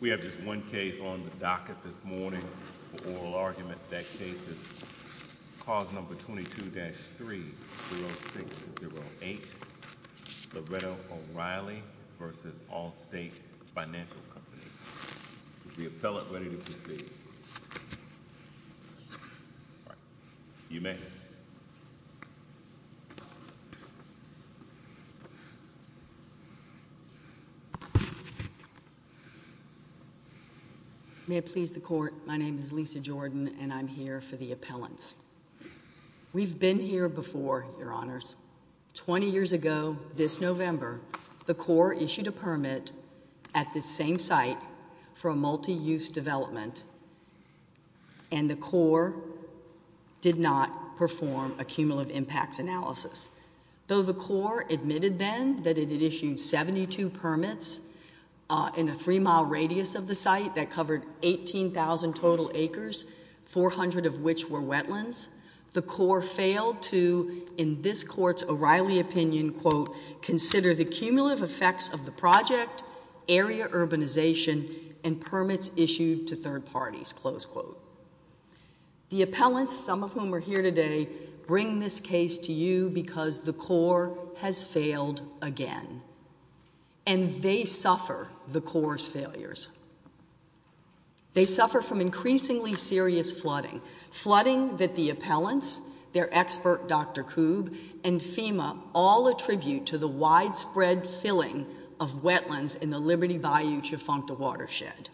We have just one case on the docket this morning for oral argument. That case is Clause 22-3.06-08 Loretto v. O'Reilly v. Allstate Financial Companies. Is the appellant ready to proceed? You may. May it please the court, my name is Lisa Jordan and I'm here for the appellants. We've been here before, your honors. Twenty years ago, this November, the Corps issued a permit at this same site for a multi-use development and the Corps did not perform a cumulative impacts analysis. Though the Corps admitted then that it had issued 72 permits in a three-mile radius of the site that covered 18,000 total acres, 400 of which were wetlands, the Corps failed to, in this court's O'Reilly opinion, quote, consider the cumulative effects of the project, area urbanization, and permits issued to third parties, close quote. The appellants, some of whom are here today, bring this case to you because the Corps has failed again and they suffer the Corps' failures. They suffer from increasingly serious flooding, flooding that the appellants, their expert Dr. Koob, and FEMA all attribute to the widespread filling of wetlands in the Liberty Bayou Chufonta watershed.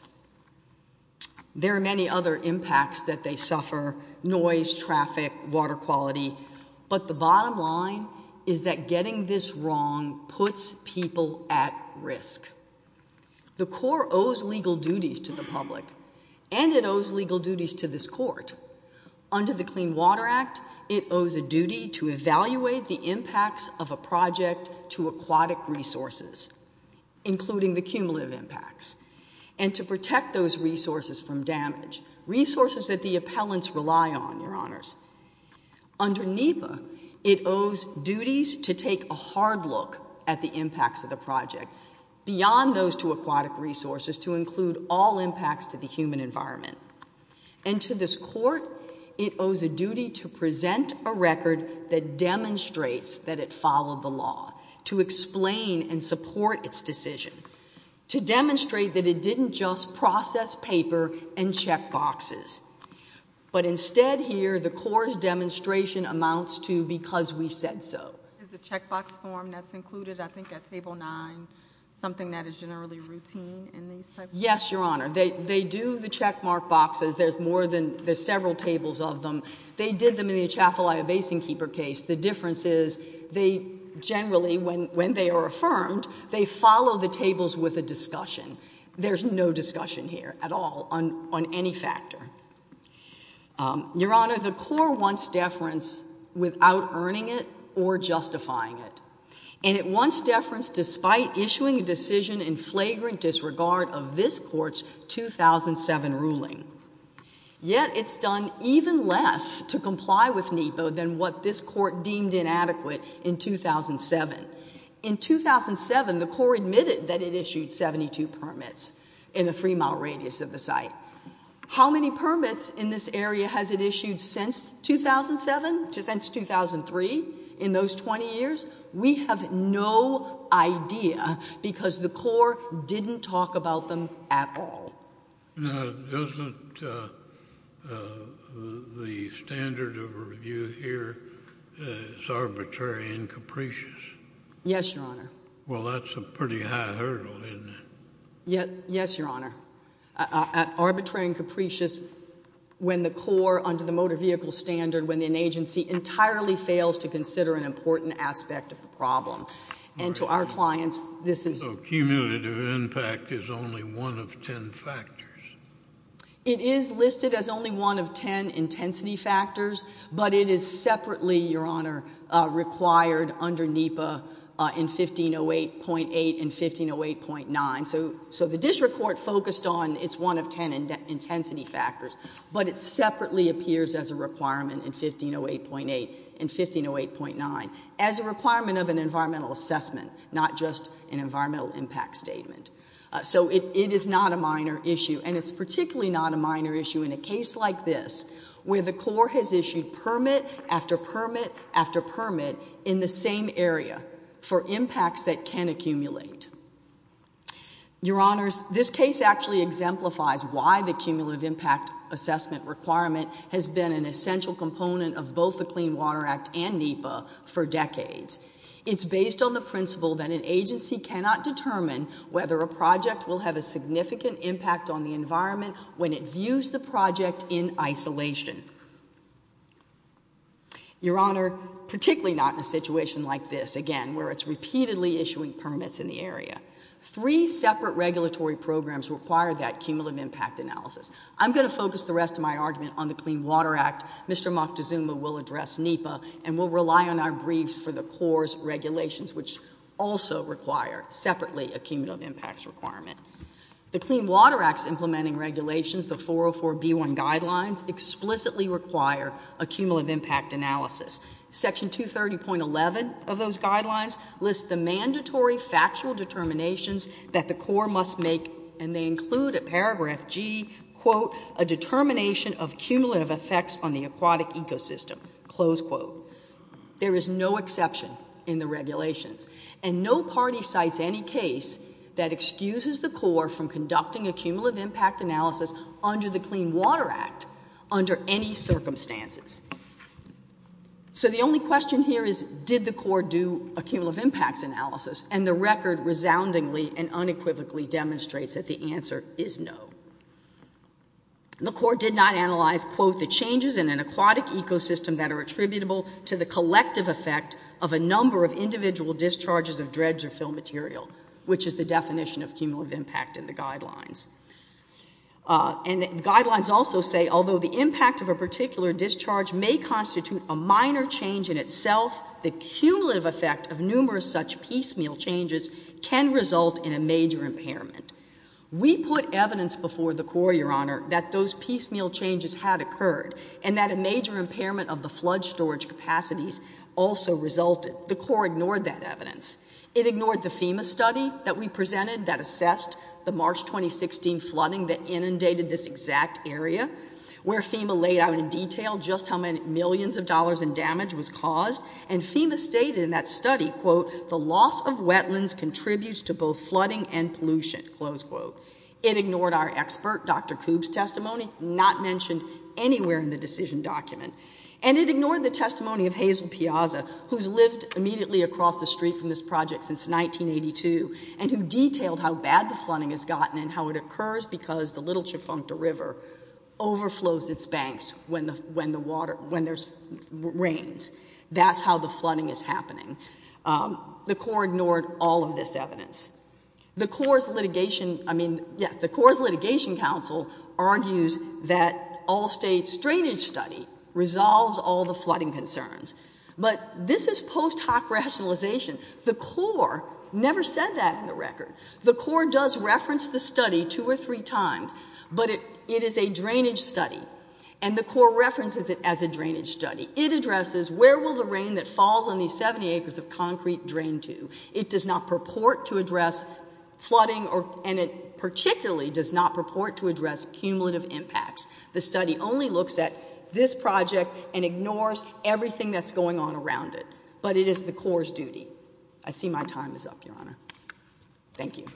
There are many other impacts that they suffer, noise, traffic, water quality, but the bottom line is that getting this wrong puts people at risk. The Corps owes legal duties to the public and it owes legal duties to this court. Under the Clean Water Act, it owes a duty to evaluate the impacts of a project to aquatic resources, including the cumulative impacts, and to protect those resources from damage, resources that the appellants rely on, Your Honors. Under NEPA, it owes duties to take a hard look at the impacts of the project, beyond those to aquatic resources, to include all impacts to the human environment. And to this court, it owes a duty to present a record that demonstrates that it followed the law, to explain and support its decision, to demonstrate that it didn't just process paper and check boxes. But instead here, the Corps' demonstration amounts to because we said so. Is the check box form that's included, I think at Table 9, something that is generally routine in these types of cases? Yes, Your Honor. They do the check mark boxes. There's more than, there's several tables of them. They did them in the Atchafalaya Basin Keeper case. The difference is they generally, when they are affirmed, they follow the tables with a discussion. There's no discussion here at all on any factor. Your Honor, the Corps wants deference without earning it or justifying it. And it wants deference despite issuing a decision in flagrant disregard of this court's 2007 ruling. Yet it's done even less to comply with NEPO than what this court deemed inadequate in 2007. In 2007, the Corps admitted that it issued 72 permits in the three-mile radius of the site. How many permits in this area has it issued since 2007, since 2003, in those 20 years? We have no idea because the Corps didn't talk about them at all. Now, doesn't the standard of review here is arbitrary and capricious? Yes, Your Honor. Well, that's a pretty high hurdle, isn't it? Yes, Your Honor. Arbitrary and capricious when the Corps, under the motor vehicle standard, when an agency entirely fails to consider an important aspect of the problem. And to our clients, this is... The cumulative impact is only one of ten factors. It is listed as only one of ten intensity factors, but it is separately, Your Honor, required under NEPA in 1508.8 and 1508.9. So the district court focused on its one of ten intensity factors, but it separately appears as a requirement in 1508.8 and 1508.9 as a requirement of an environmental assessment, not just an environmental impact statement. So it is not a minor issue, and it's particularly not a minor issue in a case like this, where the Corps has issued permit after permit after permit in the same area for impacts that can accumulate. Your Honors, this case actually exemplifies why the cumulative impact assessment requirement has been an essential component of both the Clean Water Act and NEPA for decades. It's based on the principle that an agency cannot determine whether a project will have a significant impact on the environment when it views the project in isolation. Your Honor, particularly not in a situation like this, again, where it's repeatedly issuing permits in the area. Three separate regulatory programs require that cumulative impact analysis. I'm going to focus the rest of my argument on the Clean Water Act. Mr. Moctezuma will address NEPA, and we'll rely on our briefs for the Corps' regulations, which also require, separately, a cumulative impacts requirement. The Clean Water Act's implementing regulations, the 404b1 guidelines, explicitly require a cumulative impact analysis. Section 230.11 of those guidelines lists the mandatory factual determinations that the Corps must make, and they include at paragraph G, quote, a determination of cumulative effects on the aquatic ecosystem, close quote. There is no exception in the regulations, and no party cites any case that excuses the Corps from conducting a cumulative impact analysis under the Clean Water Act under any circumstances. So the only question here is, did the Corps do a cumulative impacts analysis? And the record resoundingly and unequivocally demonstrates that the answer is no. The Corps did not analyze, quote, the changes in an aquatic ecosystem that are attributable to the collective effect of a number of individual discharges of dredge or fill material, which is the definition of cumulative impact in the guidelines. And the guidelines also say, although the impact of a particular discharge may constitute a minor change in itself, the cumulative effect of numerous such piecemeal changes can result in a major impairment. We put evidence before the Corps, Your Honor, that those piecemeal changes had occurred, and that a major impairment of the flood storage capacities also resulted. The Corps ignored that evidence. It ignored the FEMA study that we presented that assessed the March 2016 flooding that inundated this exact area, where FEMA laid out in detail just how many millions of dollars in damage was caused, and FEMA stated in that study, quote, the loss of wetlands contributes to both flooding and pollution. Close quote. It ignored our expert, Dr. Koob's, testimony, not mentioned anywhere in the decision document. And it ignored the testimony of Hazel Piazza, who's lived immediately across the street from this project since 1982, and who detailed how bad the flooding has gotten and how it occurs because the Little Chifuncta River overflows its banks when there's rains. That's how the flooding is happening. The Corps ignored all of this evidence. The Corps' litigation, I mean, yeah, the Corps' litigation council argues that all states' drainage study resolves all the flooding concerns. But this is post hoc rationalization. The Corps never said that in the record. The Corps does reference the study two or three times, but it is a drainage study. And the Corps references it as a drainage study. It addresses where will the rain that falls on these 70 acres of concrete drain to. It does not purport to address flooding, and it particularly does not purport to address cumulative impacts. The study only looks at this project and ignores everything that's going on around it. But it is the Corps' duty. I see my time is up, Your Honor. Thank you.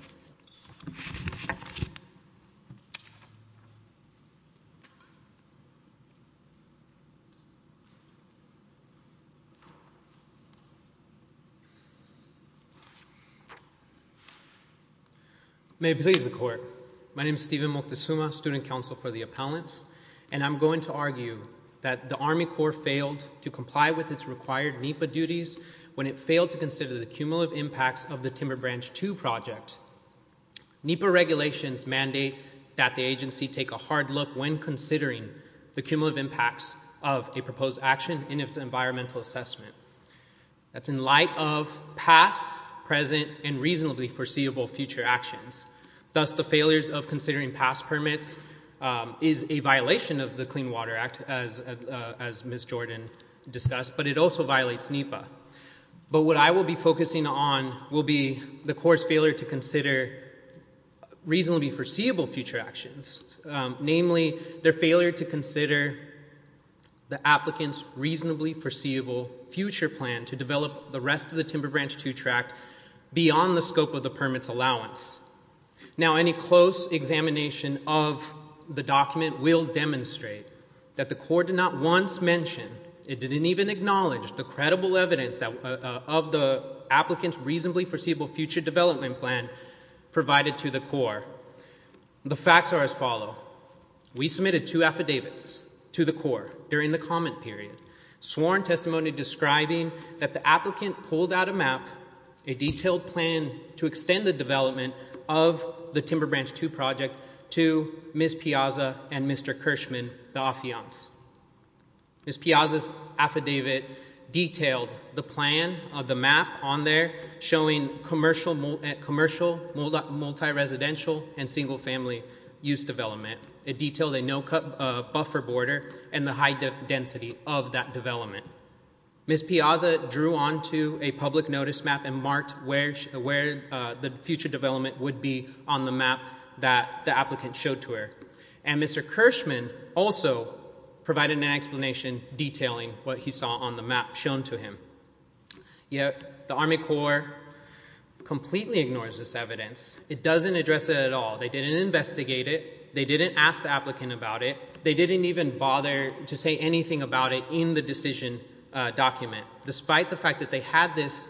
May it please the Court. My name is Steven Moctezuma, student counsel for the appellants. And I'm going to argue that the Army Corps failed to comply with its required NEPA duties when it failed to consider the cumulative impacts of the Timber Branch 2 project. NEPA regulations mandate that the agency take a hard look when considering the cumulative impacts of a proposed action in its environmental assessment. That's in light of past, present, and reasonably foreseeable future actions. Thus, the failures of considering past permits is a violation of the Clean Water Act, as Ms. Jordan discussed, but it also violates NEPA. But what I will be focusing on will be the Corps' failure to consider reasonably foreseeable future actions. Namely, their failure to consider the applicant's reasonably foreseeable future plan to develop the rest of the Timber Branch 2 tract beyond the scope of the permit's allowance. Now, any close examination of the document will demonstrate that the Corps did not once mention, it didn't even acknowledge, the credible evidence of the applicant's reasonably foreseeable future development plan provided to the Corps. The facts are as follow. We submitted two affidavits to the Corps during the comment period, sworn testimony describing that the applicant pulled out a map, a detailed plan to extend the development of the Timber Branch 2 project to Ms. Piazza and Mr. Kirschman, the affiants. Ms. Piazza's affidavit detailed the plan of the map on there showing commercial, multi-residential, and single-family use development. It detailed a no-cut buffer border and the high density of that development. Ms. Piazza drew onto a public notice map and marked where the future development would be on the map that the applicant showed to her. And Mr. Kirschman also provided an explanation detailing what he saw on the map shown to him. Yet, the Army Corps completely ignores this evidence. It doesn't address it at all. They didn't investigate it. They didn't ask the applicant about it. They didn't even bother to say anything about it in the decision document, despite the fact that they had this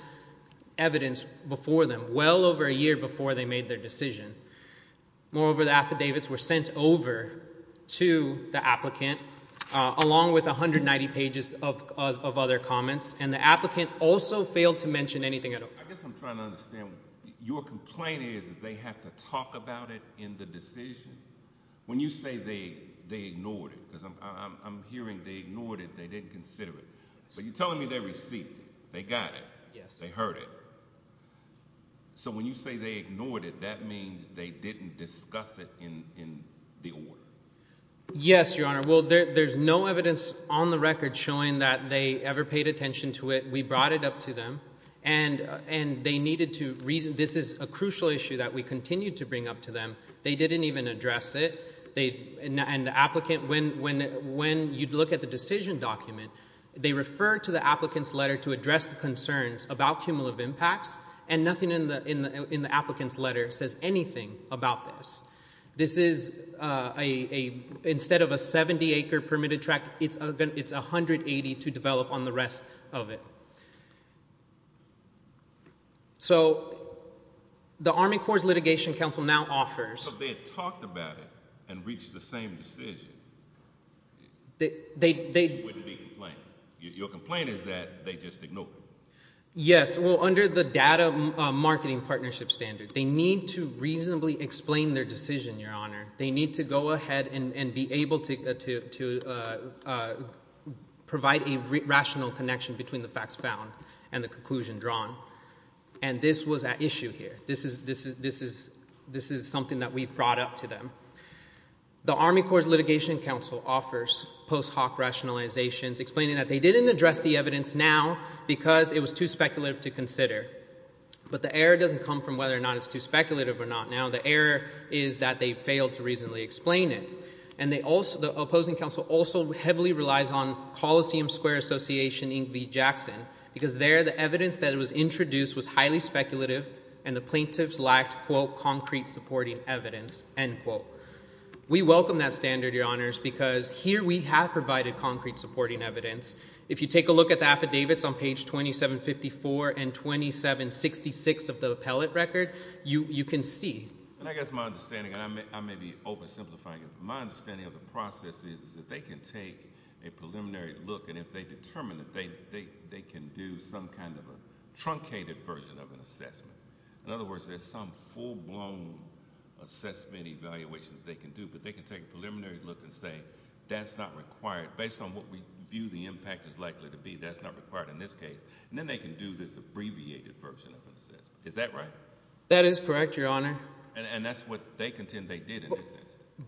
evidence before them well over a year before they made their decision. Moreover, the affidavits were sent over to the applicant along with 190 pages of other comments. And the applicant also failed to mention anything at all. I guess I'm trying to understand. Your complaint is that they have to talk about it in the decision? When you say they ignored it, because I'm hearing they ignored it, they didn't consider it. But you're telling me they received it. They got it. They heard it. So when you say they ignored it, that means they didn't discuss it in the order. Yes, Your Honor. Well, there's no evidence on the record showing that they ever paid attention to it. We brought it up to them, and they needed to reason. This is a crucial issue that we continued to bring up to them. They didn't even address it. And the applicant – when you look at the decision document, they refer to the applicant's letter to address the concerns about cumulative impacts, and nothing in the applicant's letter says anything about this. This is a – instead of a 70-acre permitted tract, it's 180 to develop on the rest of it. So the Army Corps Litigation Council now offers – If they had talked about it and reached the same decision, you wouldn't be complaining. Your complaint is that they just ignored it. Yes. Well, under the data marketing partnership standard, they need to reasonably explain their decision, Your Honor. They need to go ahead and be able to provide a rational connection between the facts found and the conclusion drawn. And this was at issue here. This is something that we brought up to them. The Army Corps Litigation Council offers post hoc rationalizations explaining that they didn't address the evidence now because it was too speculative to consider. But the error doesn't come from whether or not it's too speculative or not now. The error is that they failed to reasonably explain it. And they also – the opposing counsel also heavily relies on Coliseum Square Association, Inc. v. Jackson, because there the evidence that was introduced was highly speculative, and the plaintiffs lacked, quote, concrete supporting evidence, end quote. We welcome that standard, Your Honors, because here we have provided concrete supporting evidence. If you take a look at the affidavits on page 2754 and 2766 of the appellate record, you can see. And I guess my understanding, and I may be oversimplifying it, but my understanding of the process is that they can take a preliminary look, and if they determine that they can do some kind of a truncated version of an assessment. In other words, there's some full-blown assessment evaluation that they can do, but they can take a preliminary look and say, that's not required. Based on what we view the impact is likely to be, that's not required in this case. And then they can do this abbreviated version of an assessment. Is that right? And that's what they contend they did in this case.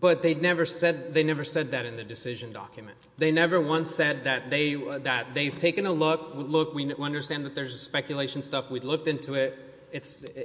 But they never said that in the decision document. They never once said that they've taken a look. Look, we understand that there's speculation stuff. We've looked into it,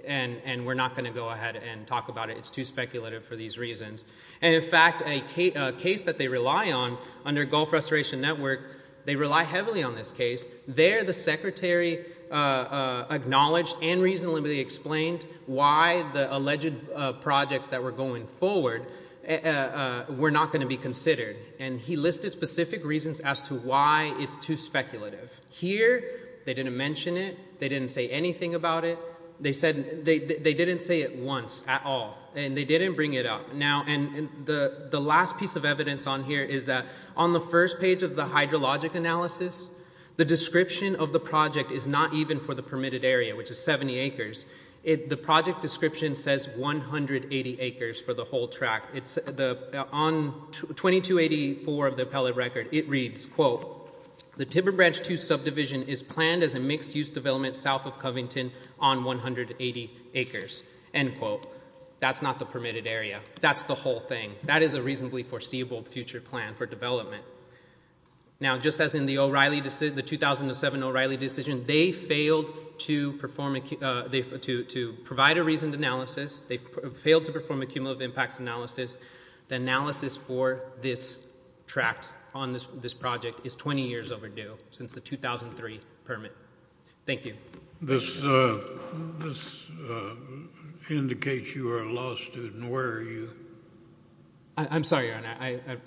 and we're not going to go ahead and talk about it. It's too speculative for these reasons. And in fact, a case that they rely on under Gulf Restoration Network, they rely heavily on this case. There, the secretary acknowledged and reasonably explained why the alleged projects that were going forward were not going to be considered. And he listed specific reasons as to why it's too speculative. Here, they didn't mention it. They didn't say anything about it. They didn't say it once at all. And they didn't bring it up. And the last piece of evidence on here is that on the first page of the hydrologic analysis, the description of the project is not even for the permitted area, which is 70 acres. The project description says 180 acres for the whole track. On 2284 of the appellate record, it reads, quote, the Tibber Branch 2 subdivision is planned as a mixed-use development south of Covington on 180 acres, end quote. That's not the permitted area. That's the whole thing. That is a reasonably foreseeable future plan for development. Now, just as in the 2007 O'Reilly decision, they failed to provide a reasoned analysis. They failed to perform a cumulative impacts analysis. The analysis for this tract on this project is 20 years overdue since the 2003 permit. Thank you. This indicates you are a law student. Where are you? I'm sorry, Your Honor.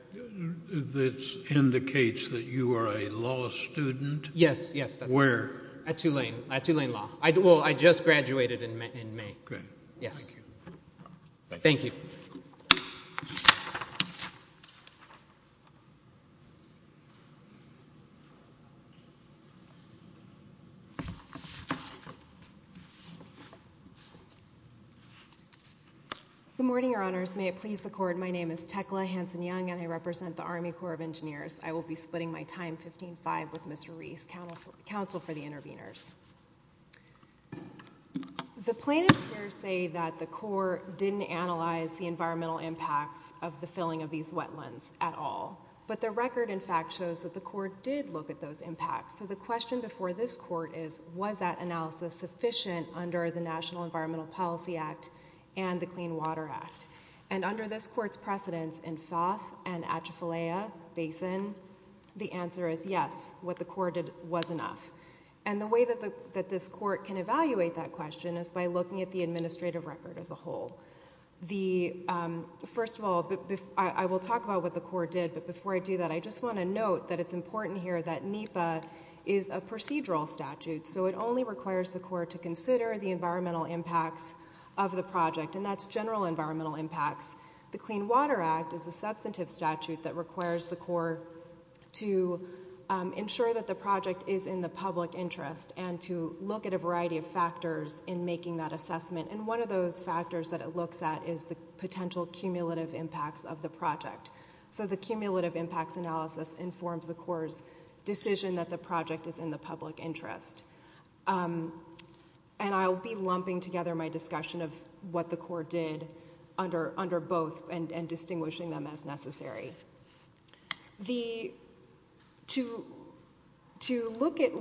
This indicates that you are a law student. Yes, yes. Where? At Tulane. At Tulane Law. Well, I just graduated in May. Great. Thank you. Thank you. Good morning, Your Honors. May it please the Court. My name is Tekla Hanson-Young, and I represent the Army Corps of Engineers. I will be splitting my time, 15-5, with Mr. Reese, counsel for the interveners. The plaintiffs here say that the Corps didn't analyze the environmental impacts of the filling of these wetlands at all. But the record, in fact, shows that the Corps did look at those impacts. So the question before this Court is, was that analysis sufficient under the National Environmental Policy Act and the Clean Water Act? And under this Court's precedence in Foth and Atchafalaya Basin, the answer is yes. What the Corps did was enough. And the way that this Court can evaluate that question is by looking at the administrative record as a whole. First of all, I will talk about what the Corps did, but before I do that, I just want to note that it's important here that NEPA is a procedural statute. So it only requires the Corps to consider the environmental impacts of the project, and that's general environmental impacts. The Clean Water Act is a substantive statute that requires the Corps to ensure that the project is in the public interest and to look at a variety of factors in making that assessment. And one of those factors that it looks at is the potential cumulative impacts of the project. So the cumulative impacts analysis informs the Corps' decision that the project is in the public interest. And I'll be lumping together my discussion of what the Corps did under both and distinguishing them as necessary. To look at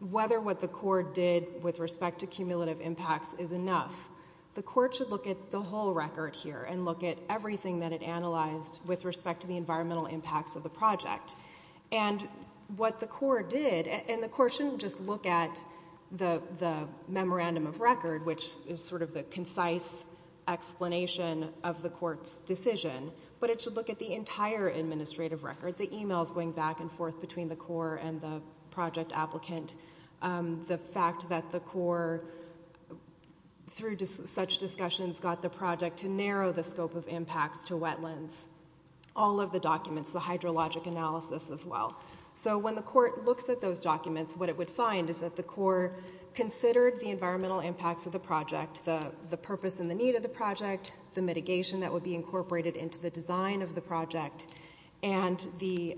whether what the Corps did with respect to cumulative impacts is enough, the Corps should look at the whole record here and look at everything that it analyzed with respect to the environmental impacts of the project. And what the Corps did, and the Corps shouldn't just look at the memorandum of record, which is sort of the concise explanation of the Court's decision, but it should look at the entire administrative record, the emails going back and forth between the Corps and the project applicant, the fact that the Corps, through such discussions, got the project to narrow the scope of impacts to wetlands. All of the documents, the hydrologic analysis as well. So when the Court looks at those documents, what it would find is that the Corps considered the environmental impacts of the project, the purpose and the need of the project, the mitigation that would be incorporated into the design of the project, and the,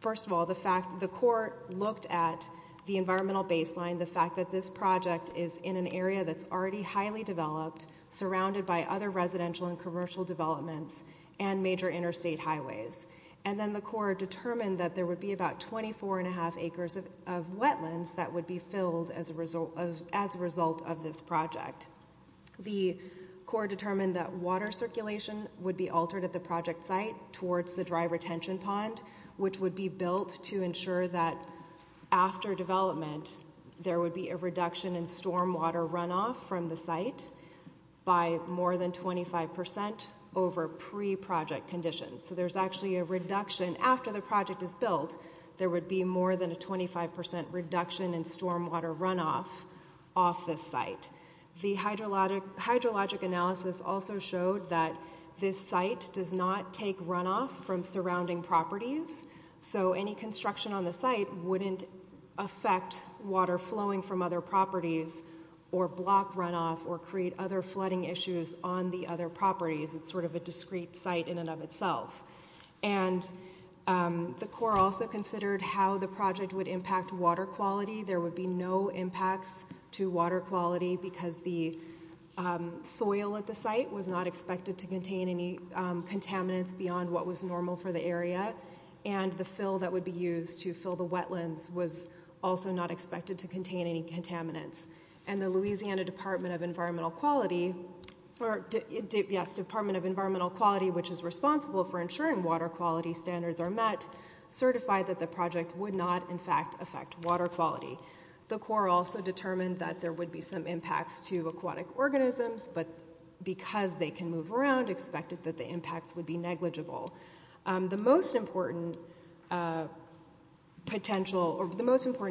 first of all, the fact that the Corps looked at the environmental baseline, the fact that this project is in an area that's already highly developed, surrounded by other residential and commercial developments and major interstate highways. And then the Corps determined that there would be about 24 1⁄2 acres of wetlands that would be filled as a result of this project. The Corps determined that water circulation would be altered at the project site towards the dry retention pond, which would be built to ensure that after development, there would be a reduction in storm water runoff from the site. By more than 25 percent over pre-project conditions. So there's actually a reduction, after the project is built, there would be more than a 25 percent reduction in storm water runoff off the site. The hydrologic analysis also showed that this site does not take runoff from surrounding properties, so any construction on the site wouldn't affect water flowing from other properties, or block runoff, or create other flooding issues on the other properties. It's sort of a discrete site in and of itself. And the Corps also considered how the project would impact water quality. There would be no impacts to water quality because the soil at the site was not expected to contain any contaminants beyond what was normal for the area. And the fill that would be used to fill the wetlands was also not expected to contain any contaminants. And the Louisiana Department of Environmental Quality, which is responsible for ensuring water quality standards are met, certified that the project would not, in fact, affect water quality. The Corps also determined that there would be some impacts to aquatic organisms, but because they can move around, expected that the impacts would be negligible. The most important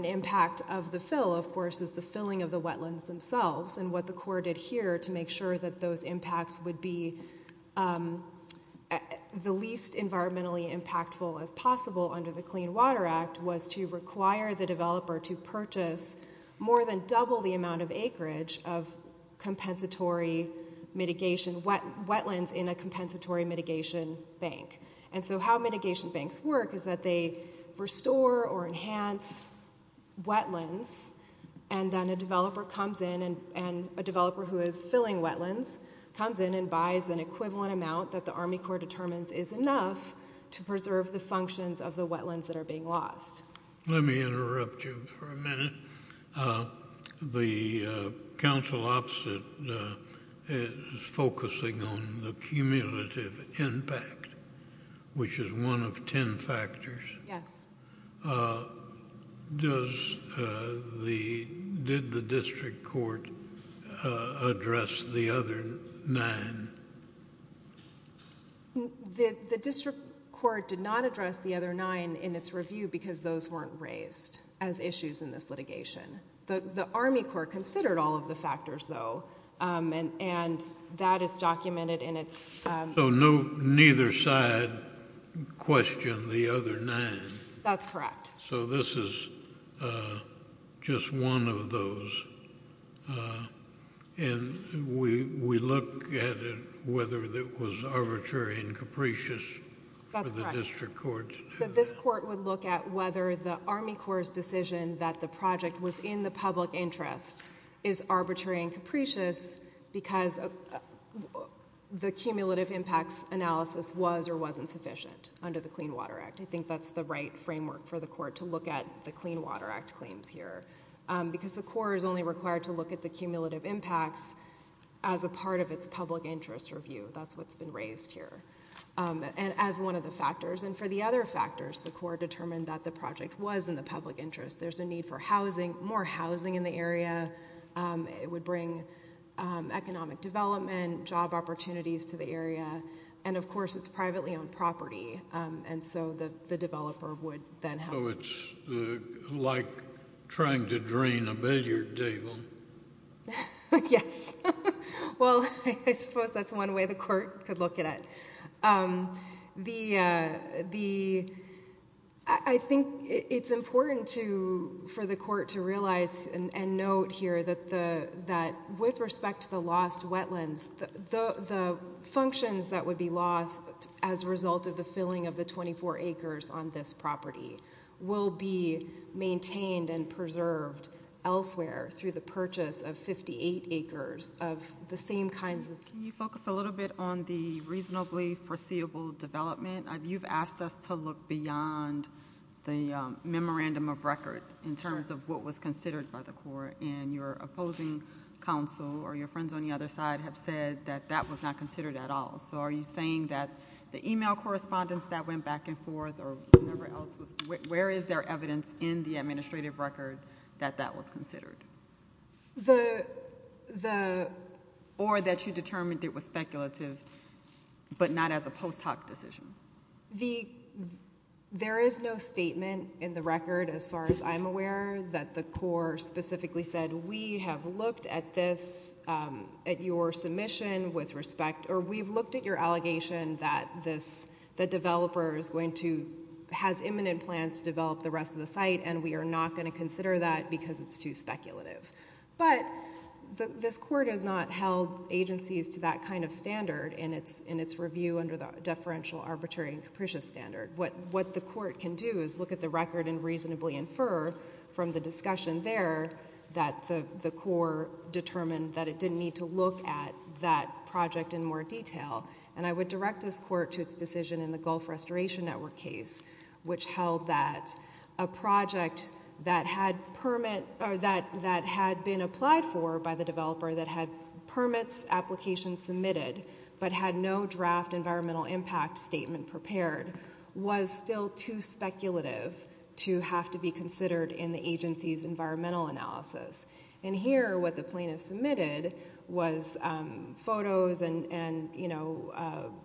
impact of the fill, of course, is the filling of the wetlands themselves. And what the Corps did here to make sure that those impacts would be the least environmentally impactful as possible under the Clean Water Act was to require the developer to purchase more than double the amount of acreage of wetlands in a compensatory mitigation bank. And so how mitigation banks work is that they restore or enhance wetlands, and then a developer who is filling wetlands comes in and buys an equivalent amount that the Army Corps determines is enough to preserve the functions of the wetlands that are being lost. The counsel opposite is focusing on the cumulative impact, which is one of ten factors. Yes. Did the district court address the other nine? The district court did not address the other nine in its review because those weren't raised as issues in this litigation. The Army Corps considered all of the factors, though, and that is documented in its... So neither side questioned the other nine? That's correct. So this is just one of those, and we look at it whether it was arbitrary and capricious for the district court. So this court would look at whether the Army Corps' decision that the project was in the public interest is arbitrary and capricious because the cumulative impacts analysis was or wasn't sufficient under the Clean Water Act. I think that's the right framework for the court to look at the Clean Water Act claims here because the Corps is only required to look at the cumulative impacts as a part of its public interest review. That's what's been raised here as one of the factors. And for the other factors, the Corps determined that the project was in the public interest. There's a need for housing, more housing in the area. It would bring economic development, job opportunities to the area, and of course, it's privately owned property. And so the developer would then have... So it's like trying to drain a billiard table. Yes. Well, I suppose that's one way the court could look at it. I think it's important for the court to realize and note here that with respect to the lost wetlands, the functions that would be lost as a result of the filling of the 24 acres on this property will be maintained and preserved elsewhere through the purchase of 58 acres of the same kinds of... Can you focus a little bit on the reasonably foreseeable development? You've asked us to look beyond the memorandum of record in terms of what was considered by the Corps. And your opposing counsel or your friends on the other side have said that that was not considered at all. So are you saying that the email correspondence that went back and forth or whatever else was... Where is there evidence in the administrative record that that was considered? Or that you determined it was speculative but not as a post hoc decision? There is no statement in the record as far as I'm aware that the Corps specifically said, we have looked at this, at your submission with respect... Or we've looked at your allegation that the developer is going to... Has imminent plans to develop the rest of the site and we are not going to consider that because it's too speculative. But this court has not held agencies to that kind of standard in its review under the deferential arbitrary and capricious standard. What the court can do is look at the record and reasonably infer from the discussion there that the Corps determined that it didn't need to look at that project in more detail. And I would direct this court to its decision in the Gulf Restoration Network case which held that a project that had been applied for by the developer that had permits, applications submitted but had no draft environmental impact statement prepared was still too speculative to have to be considered in the agency's environmental analysis. And here what the plaintiff submitted was photos and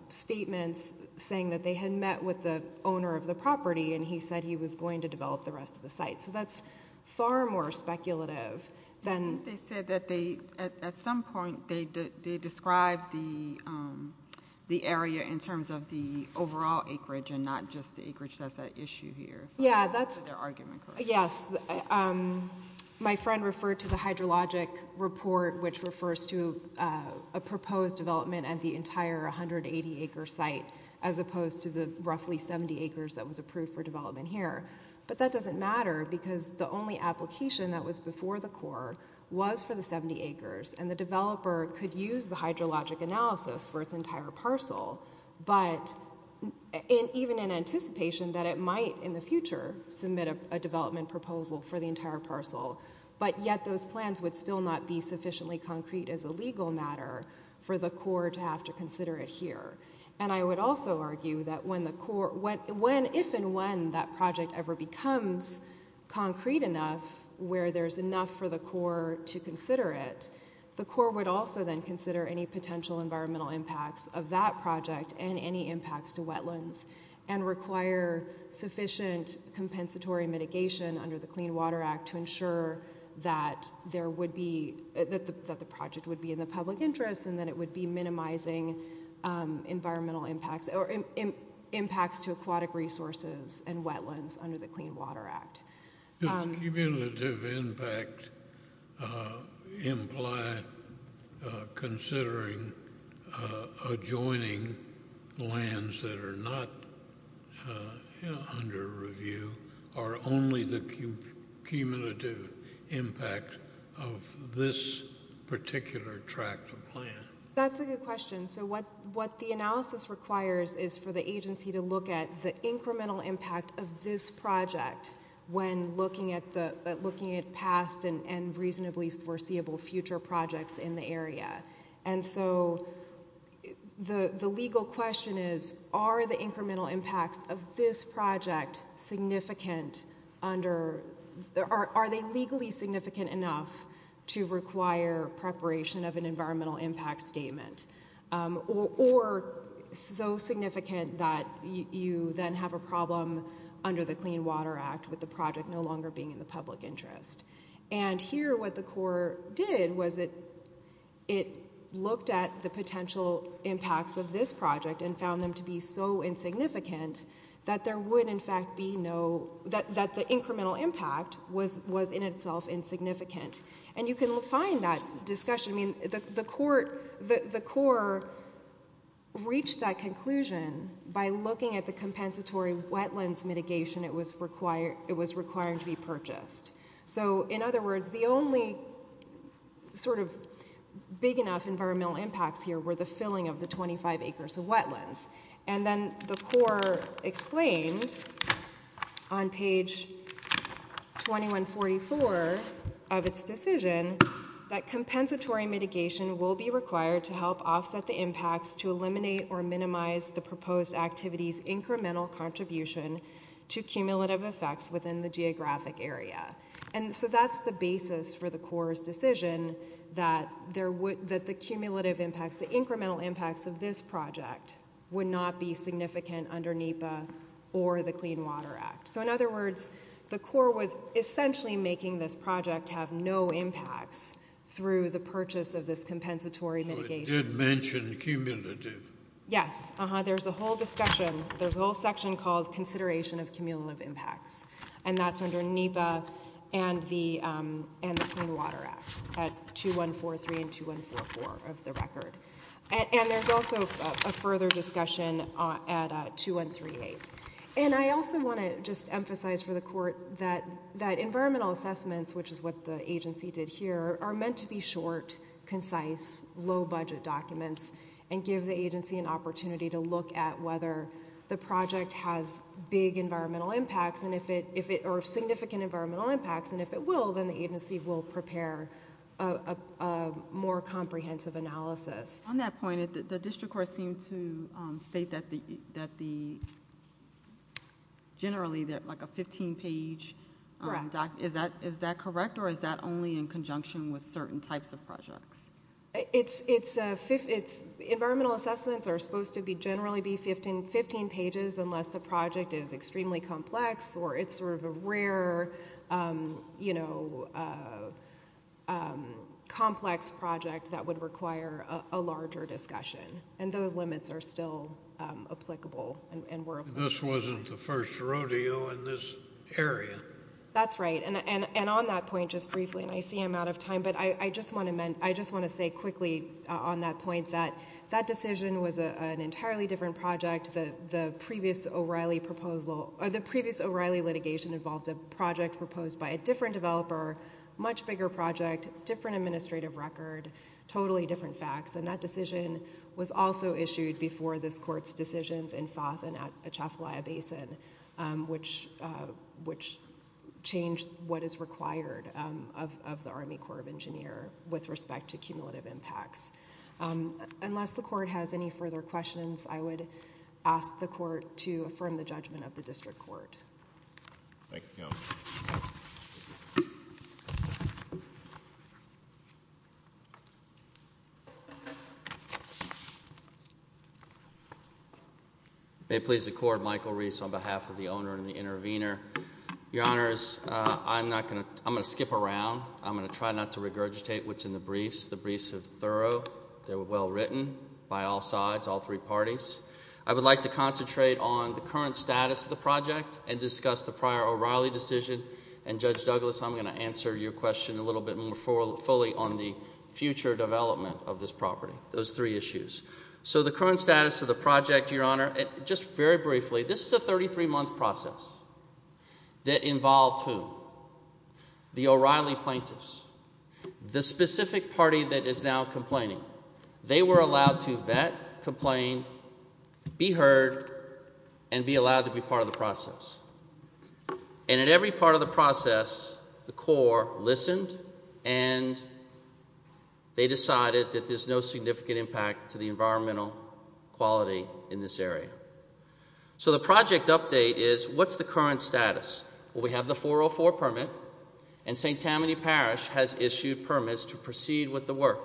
statements saying that they had met with the owner of the property and he said he was going to develop the rest of the site. So that's far more speculative than... I think they said that at some point they described the area in terms of the overall acreage and not just the acreage that's at issue here. Yes, my friend referred to the hydrologic report which refers to a proposed development at the entire 180 acre site as opposed to the roughly 70 acres that was approved for development here. But that doesn't matter because the only application that was before the Corps was for the 70 acres and the developer could use the hydrologic analysis for its entire parcel but even in anticipation that it might in the future submit a development proposal for the entire parcel but yet those plans would still not be sufficiently concrete as a legal matter for the Corps to have to consider it here. And I would also argue that if and when that project ever becomes concrete enough where there's enough for the Corps to consider it, the Corps would also then consider any potential environmental impacts of that project and any impacts to wetlands and require sufficient compensatory mitigation under the Clean Water Act to ensure that the project would be in the public interest and that it would be minimizing environmental impacts or impacts to aquatic resources and wetlands under the Clean Water Act. Does cumulative impact imply considering adjoining lands that are not under review or only the cumulative impact of this particular tract of land? That's a good question. So what the analysis requires is for the agency to look at the incremental impact of this project when looking at past and reasonably foreseeable future projects in the area. And so the legal question is are the incremental impacts of this project significant under are they legally significant enough to require preparation of an environmental impact statement or so significant that you then have a problem under the Clean Water Act with this project no longer being in the public interest? And here what the Corps did was it looked at the potential impacts of this project and found them to be so insignificant that there would in fact be no that the incremental impact was in itself insignificant. And you can find that discussion. The Corps reached that conclusion by looking at the compensatory wetlands mitigation it was requiring to be purchased. So in other words, the only sort of big enough environmental impacts here were the filling of the 25 acres of wetlands. And then the Corps explained on page 2144 of its decision that compensatory mitigation will be required to help offset the impacts to eliminate or minimize the proposed activity's incremental contribution to cumulative effects within the geographic area. And so that's the basis for the Corps' decision that the cumulative impacts, the incremental impacts of this project would not be significant under NEPA or the Clean Water Act. So in other words, the Corps was essentially making this project have no impacts through the purchase of this compensatory mitigation. You did mention cumulative. Yes. There's a whole discussion, there's a whole section called Consideration of Cumulative Impacts. And that's under NEPA and the Clean Water Act at 2143 and 2144 of the record. And there's also a further discussion at 2138. And I also want to just emphasize for the Corps that environmental assessments, which is what the agency did here, are meant to be short, concise, detailed documents and give the agency an opportunity to look at whether the project has big environmental impacts or significant environmental impacts. And if it will, then the agency will prepare a more comprehensive analysis. On that point, the district court seemed to state that the, generally, like a 15-page document, is that correct? Or is that only in conjunction with certain types of projects? It's, environmental assessments are supposed to generally be 15 pages unless the project is extremely complex or it's sort of a rare, you know, complex project that would require a larger discussion. And those limits are still applicable. This wasn't the first rodeo in this area. That's right. And on that point, just briefly, and I see I'm out of time, but I just want to say quickly on that point, that that decision was an entirely different project. The previous O'Reilly litigation involved a project proposed by a different developer, much bigger project, different administrative record, totally different facts. And that decision was also issued before this court's decisions in Fawth and at Atchafalaya Basin, which changed what is required of the Army Corps of Engineers with respect to cumulative impacts. Unless the court has any further questions, I would ask the court to affirm the judgment of the district court. Thank you. Thank you. May it please the court, Michael Reese on behalf of the owner and the intervener. Your Honors, I'm going to skip around. I'm going to try not to regurgitate what's in the briefs. The briefs are thorough. They were well written by all sides, all three parties. I would like to concentrate on the current status of the project and discuss the prior O'Reilly decision. And Judge Douglas, I'm going to answer your question a little bit more fully on the future development of this property, those three issues. So the current status of the project, Your Honor. Just very briefly, this is a 33-month process that involved who? The O'Reilly plaintiffs, the specific party that is now complaining. They were allowed to vet, complain, be heard, and be allowed to be part of the process. And in every part of the process, the court listened, and they decided that there's no significant impact to the environmental quality in this area. So the project update is, what's the current status? Well, we have the 404 permit, and St. Tammany Parish has issued permits to proceed with the work.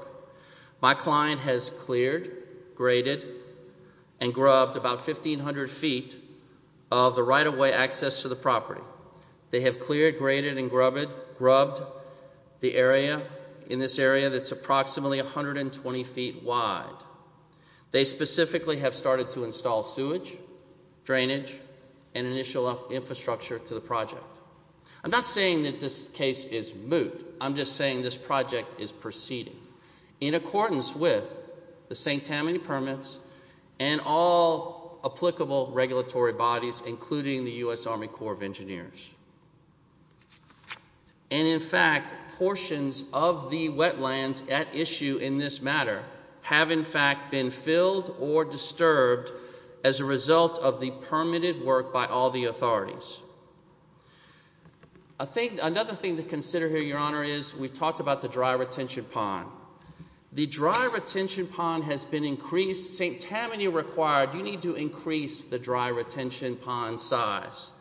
My client has cleared, graded, and grubbed about 1,500 feet of the right-of-way access to the property. They have cleared, graded, and grubbed the area, in this area that's approximately 120 feet wide. They specifically have started to install sewage, drainage, and initial infrastructure to the project. I'm not saying that this case is moot. I'm just saying this project is proceeding. In accordance with the St. Tammany permits and all applicable regulatory bodies, including the U.S. Army Corps of Engineers. And in fact, portions of the wetlands at issue in this matter have in fact been filled or disturbed as a result of the permitted work by all the authorities. Another thing to consider here, Your Honor, is we've talked about the dry retention pond. The dry retention pond has been increased. St. Tammany required you need to increase the dry retention pond size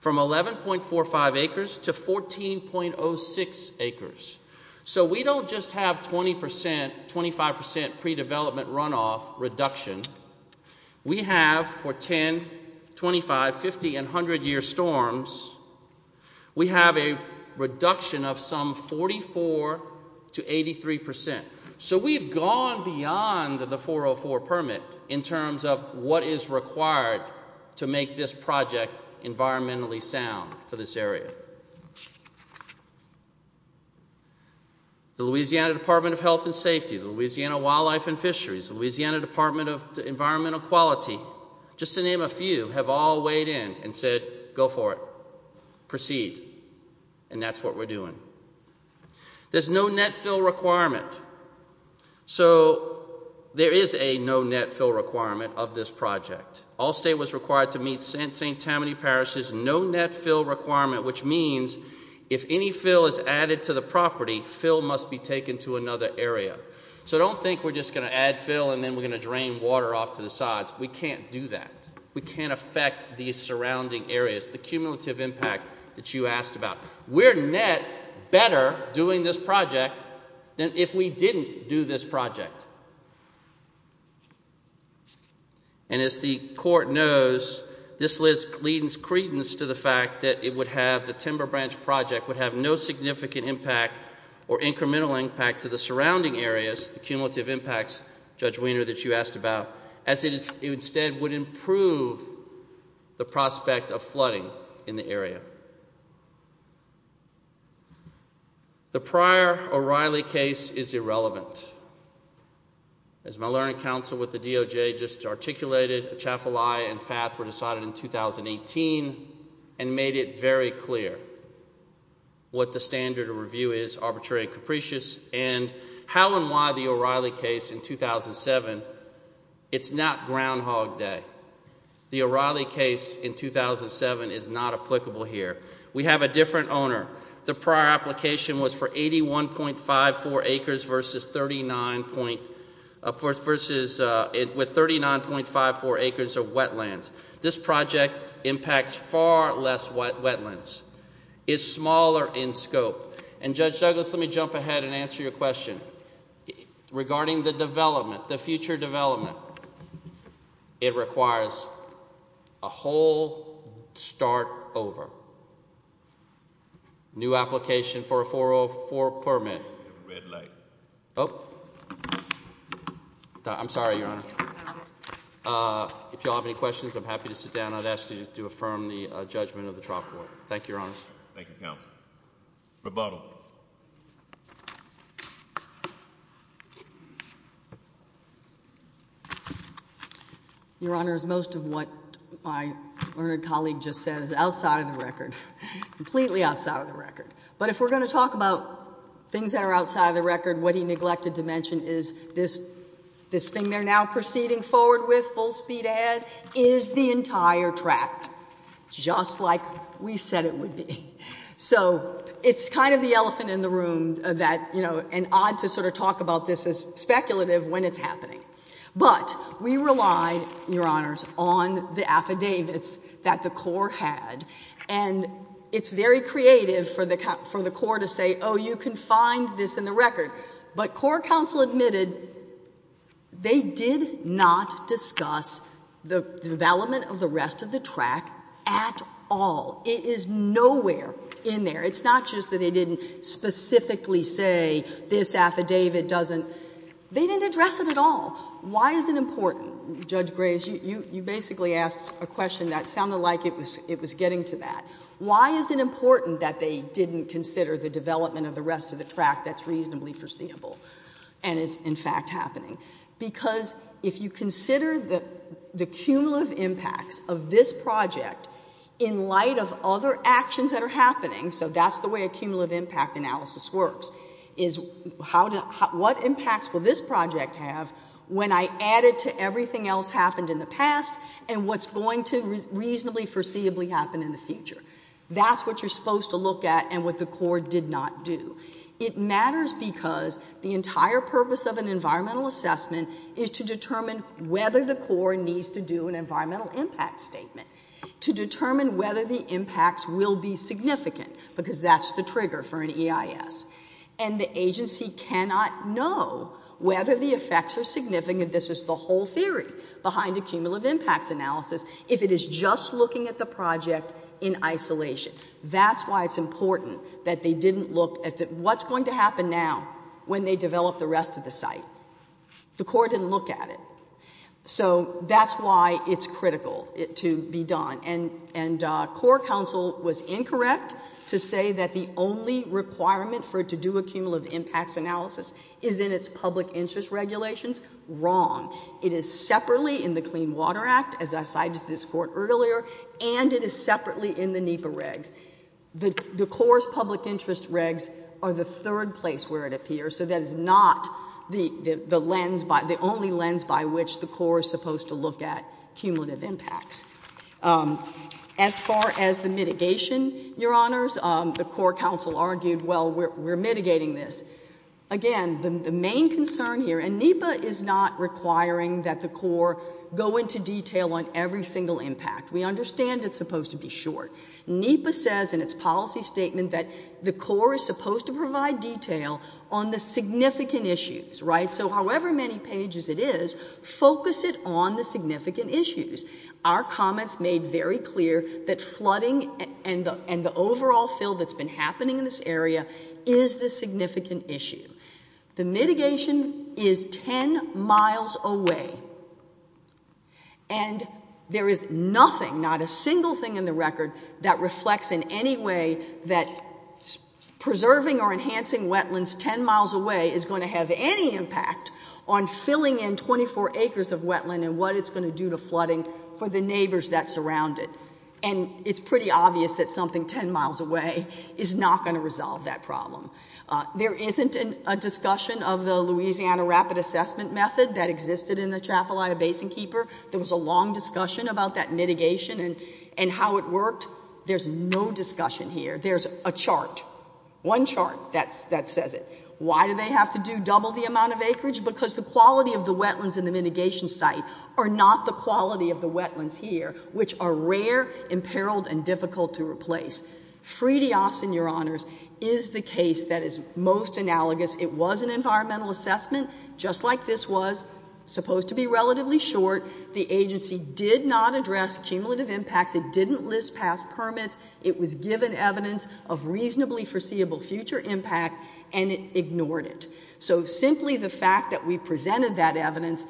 from 11.45 acres to 14.06 acres. So we don't just have 20%, 25% pre-development runoff reduction. We have, for 10, 25, 50, and 100-year storms, we have a reduction of some 44% to 83%. So we've gone beyond the 404 permit in terms of what is required to make this project environmentally sound for this area. The Louisiana Department of Health and Safety, the Louisiana Wildlife and Fisheries, the Louisiana Department of Environmental Quality, just to name a few, have all weighed in and said, go for it, proceed, and that's what we're doing. There's no net fill requirement. So there is a no net fill requirement of this project. All state was required to meet St. Tammany Parish's no net fill requirement, which means if any fill is added to the property, fill must be taken to another area. So don't think we're just going to add fill and then we're going to drain water off to the sides. We can't do that. We can't affect the surrounding areas, the cumulative impact that you asked about. We're net better doing this project than if we didn't do this project. And as the court knows, this leads credence to the fact that it would have, the timber branch project would have no significant impact or incremental impact to the surrounding areas, the cumulative impacts, Judge Wiener, that you asked about, as it instead would improve the prospect of flooding in the area. The prior O'Reilly case is irrelevant. As my learning counsel with the DOJ just articulated, Atchafalaya and Fath were decided in 2018 and made it very clear what the standard of review is, arbitrary and capricious, and how and why the O'Reilly case in 2007 is not Groundhog Day. The O'Reilly case in 2007 is not applicable here. We have a different owner. The prior application was for 81.54 acres with 39.54 acres of wetlands. This project impacts far less wetlands, is smaller in scope. And Judge Douglas, let me jump ahead and answer your question. Regarding the development, the future development, it requires a whole start over. New application for a 404 permit. Red light. I'm sorry, Your Honor. If you all have any questions, I'm happy to sit down. I'd ask you to affirm the judgment of the trial court. Thank you, Your Honor. Thank you, Counsel. Rebuttal. Your Honor, as most of what my learned colleague just said is outside of the record, completely outside of the record. But if we're going to talk about things that are outside of the record, what he neglected to mention is this thing they're now proceeding forward with, full speed ahead, is the entire tract, just like we said it would be. So it's kind of the elephant in the room that, you know, an odd to sort of talk about this as speculative when it's happening. But we relied, Your Honors, on the affidavits that the court had. And it's very creative for the court to say, oh, you can find this in the record. But court counsel admitted they did not discuss the development of the rest of the tract at all. It is nowhere in there. It's not just that they didn't specifically say this affidavit doesn't. They didn't address it at all. Why is it important? Judge Graves, you basically asked a question that sounded like it was getting to that. Why is it important that they didn't consider the development of the rest of the tract that's reasonably foreseeable and is in fact happening? Because if you consider the cumulative impacts of this project in light of other actions that are happening, so that's the way a cumulative impact analysis works, is what impacts will this project have when I add it to everything else happened in the past and what's going to reasonably foreseeably happen in the future? That's what you're supposed to look at and what the court did not do. It matters because the entire purpose of an environmental assessment is to determine whether the court needs to do an environmental impact statement to determine whether the impacts will be significant because that's the trigger for an EIS. And the agency cannot know whether the effects are significant, this is the whole theory behind a cumulative impacts analysis, if it is just looking at the project in isolation. That's why it's important that they didn't look at what's going to happen now when they develop the rest of the site. The court didn't look at it. So that's why it's critical to be done. And core counsel was incorrect to say that the only requirement for it to do a cumulative impacts analysis is in its public interest regulations. Wrong. It is separately in the Clean Water Act, as I cited this court earlier, and it is separately in the NEPA regs. The core's public interest regs are the third place where it appears, so that is not the lens, the only lens by which the core is supposed to look at cumulative impacts. As far as the mitigation, Your Honors, the core counsel argued, well, we're mitigating this. Again, the main concern here, and NEPA is not requiring that the core go into detail on every single impact. We understand it's supposed to be short. NEPA says in its policy statement that the core is supposed to provide detail on the significant issues, right? So however many pages it is, focus it on the significant issues. Our comments made very clear that flooding and the overall fill that's been happening in this area is the significant issue. The mitigation is 10 miles away, and there is nothing, not a single thing in the record that reflects in any way that preserving or enhancing wetlands 10 miles away is going to have any impact on filling in 24 acres of wetland and what it's going to do to flooding for the neighbors that surround it. And it's pretty obvious that something 10 miles away is not going to resolve that problem. There isn't a discussion of the Louisiana Rapid Assessment Method that existed in the Trafalgar Basin Keeper. There was a long discussion about that mitigation and how it worked. There's no discussion here. There's a chart, one chart that says it. Why do they have to do double the amount of acreage? Because the quality of the wetlands and the mitigation site of the wetlands here, which are rare, imperiled, and difficult to replace. FREDIAS, in your honors, is the case that is most analogous. It was an environmental assessment just like this was, supposed to be relatively short. The agency did not address cumulative impacts. It didn't list past permits. It was given evidence of reasonably foreseeable future impact, and it ignored it. So simply the fact that we presented that evidence,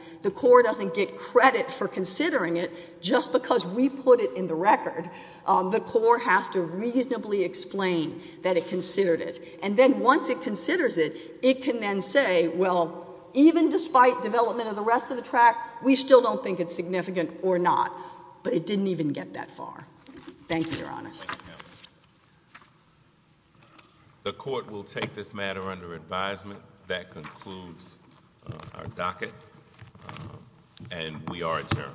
just because we put it in the record, the court has to reasonably explain that it considered it. And then once it considers it, it can then say, well, even despite development of the rest of the tract, we still don't think it's significant or not. But it didn't even get that far. Thank you, your honors. The court will take this matter under advisement. That concludes our docket, and we are adjourned. All rise.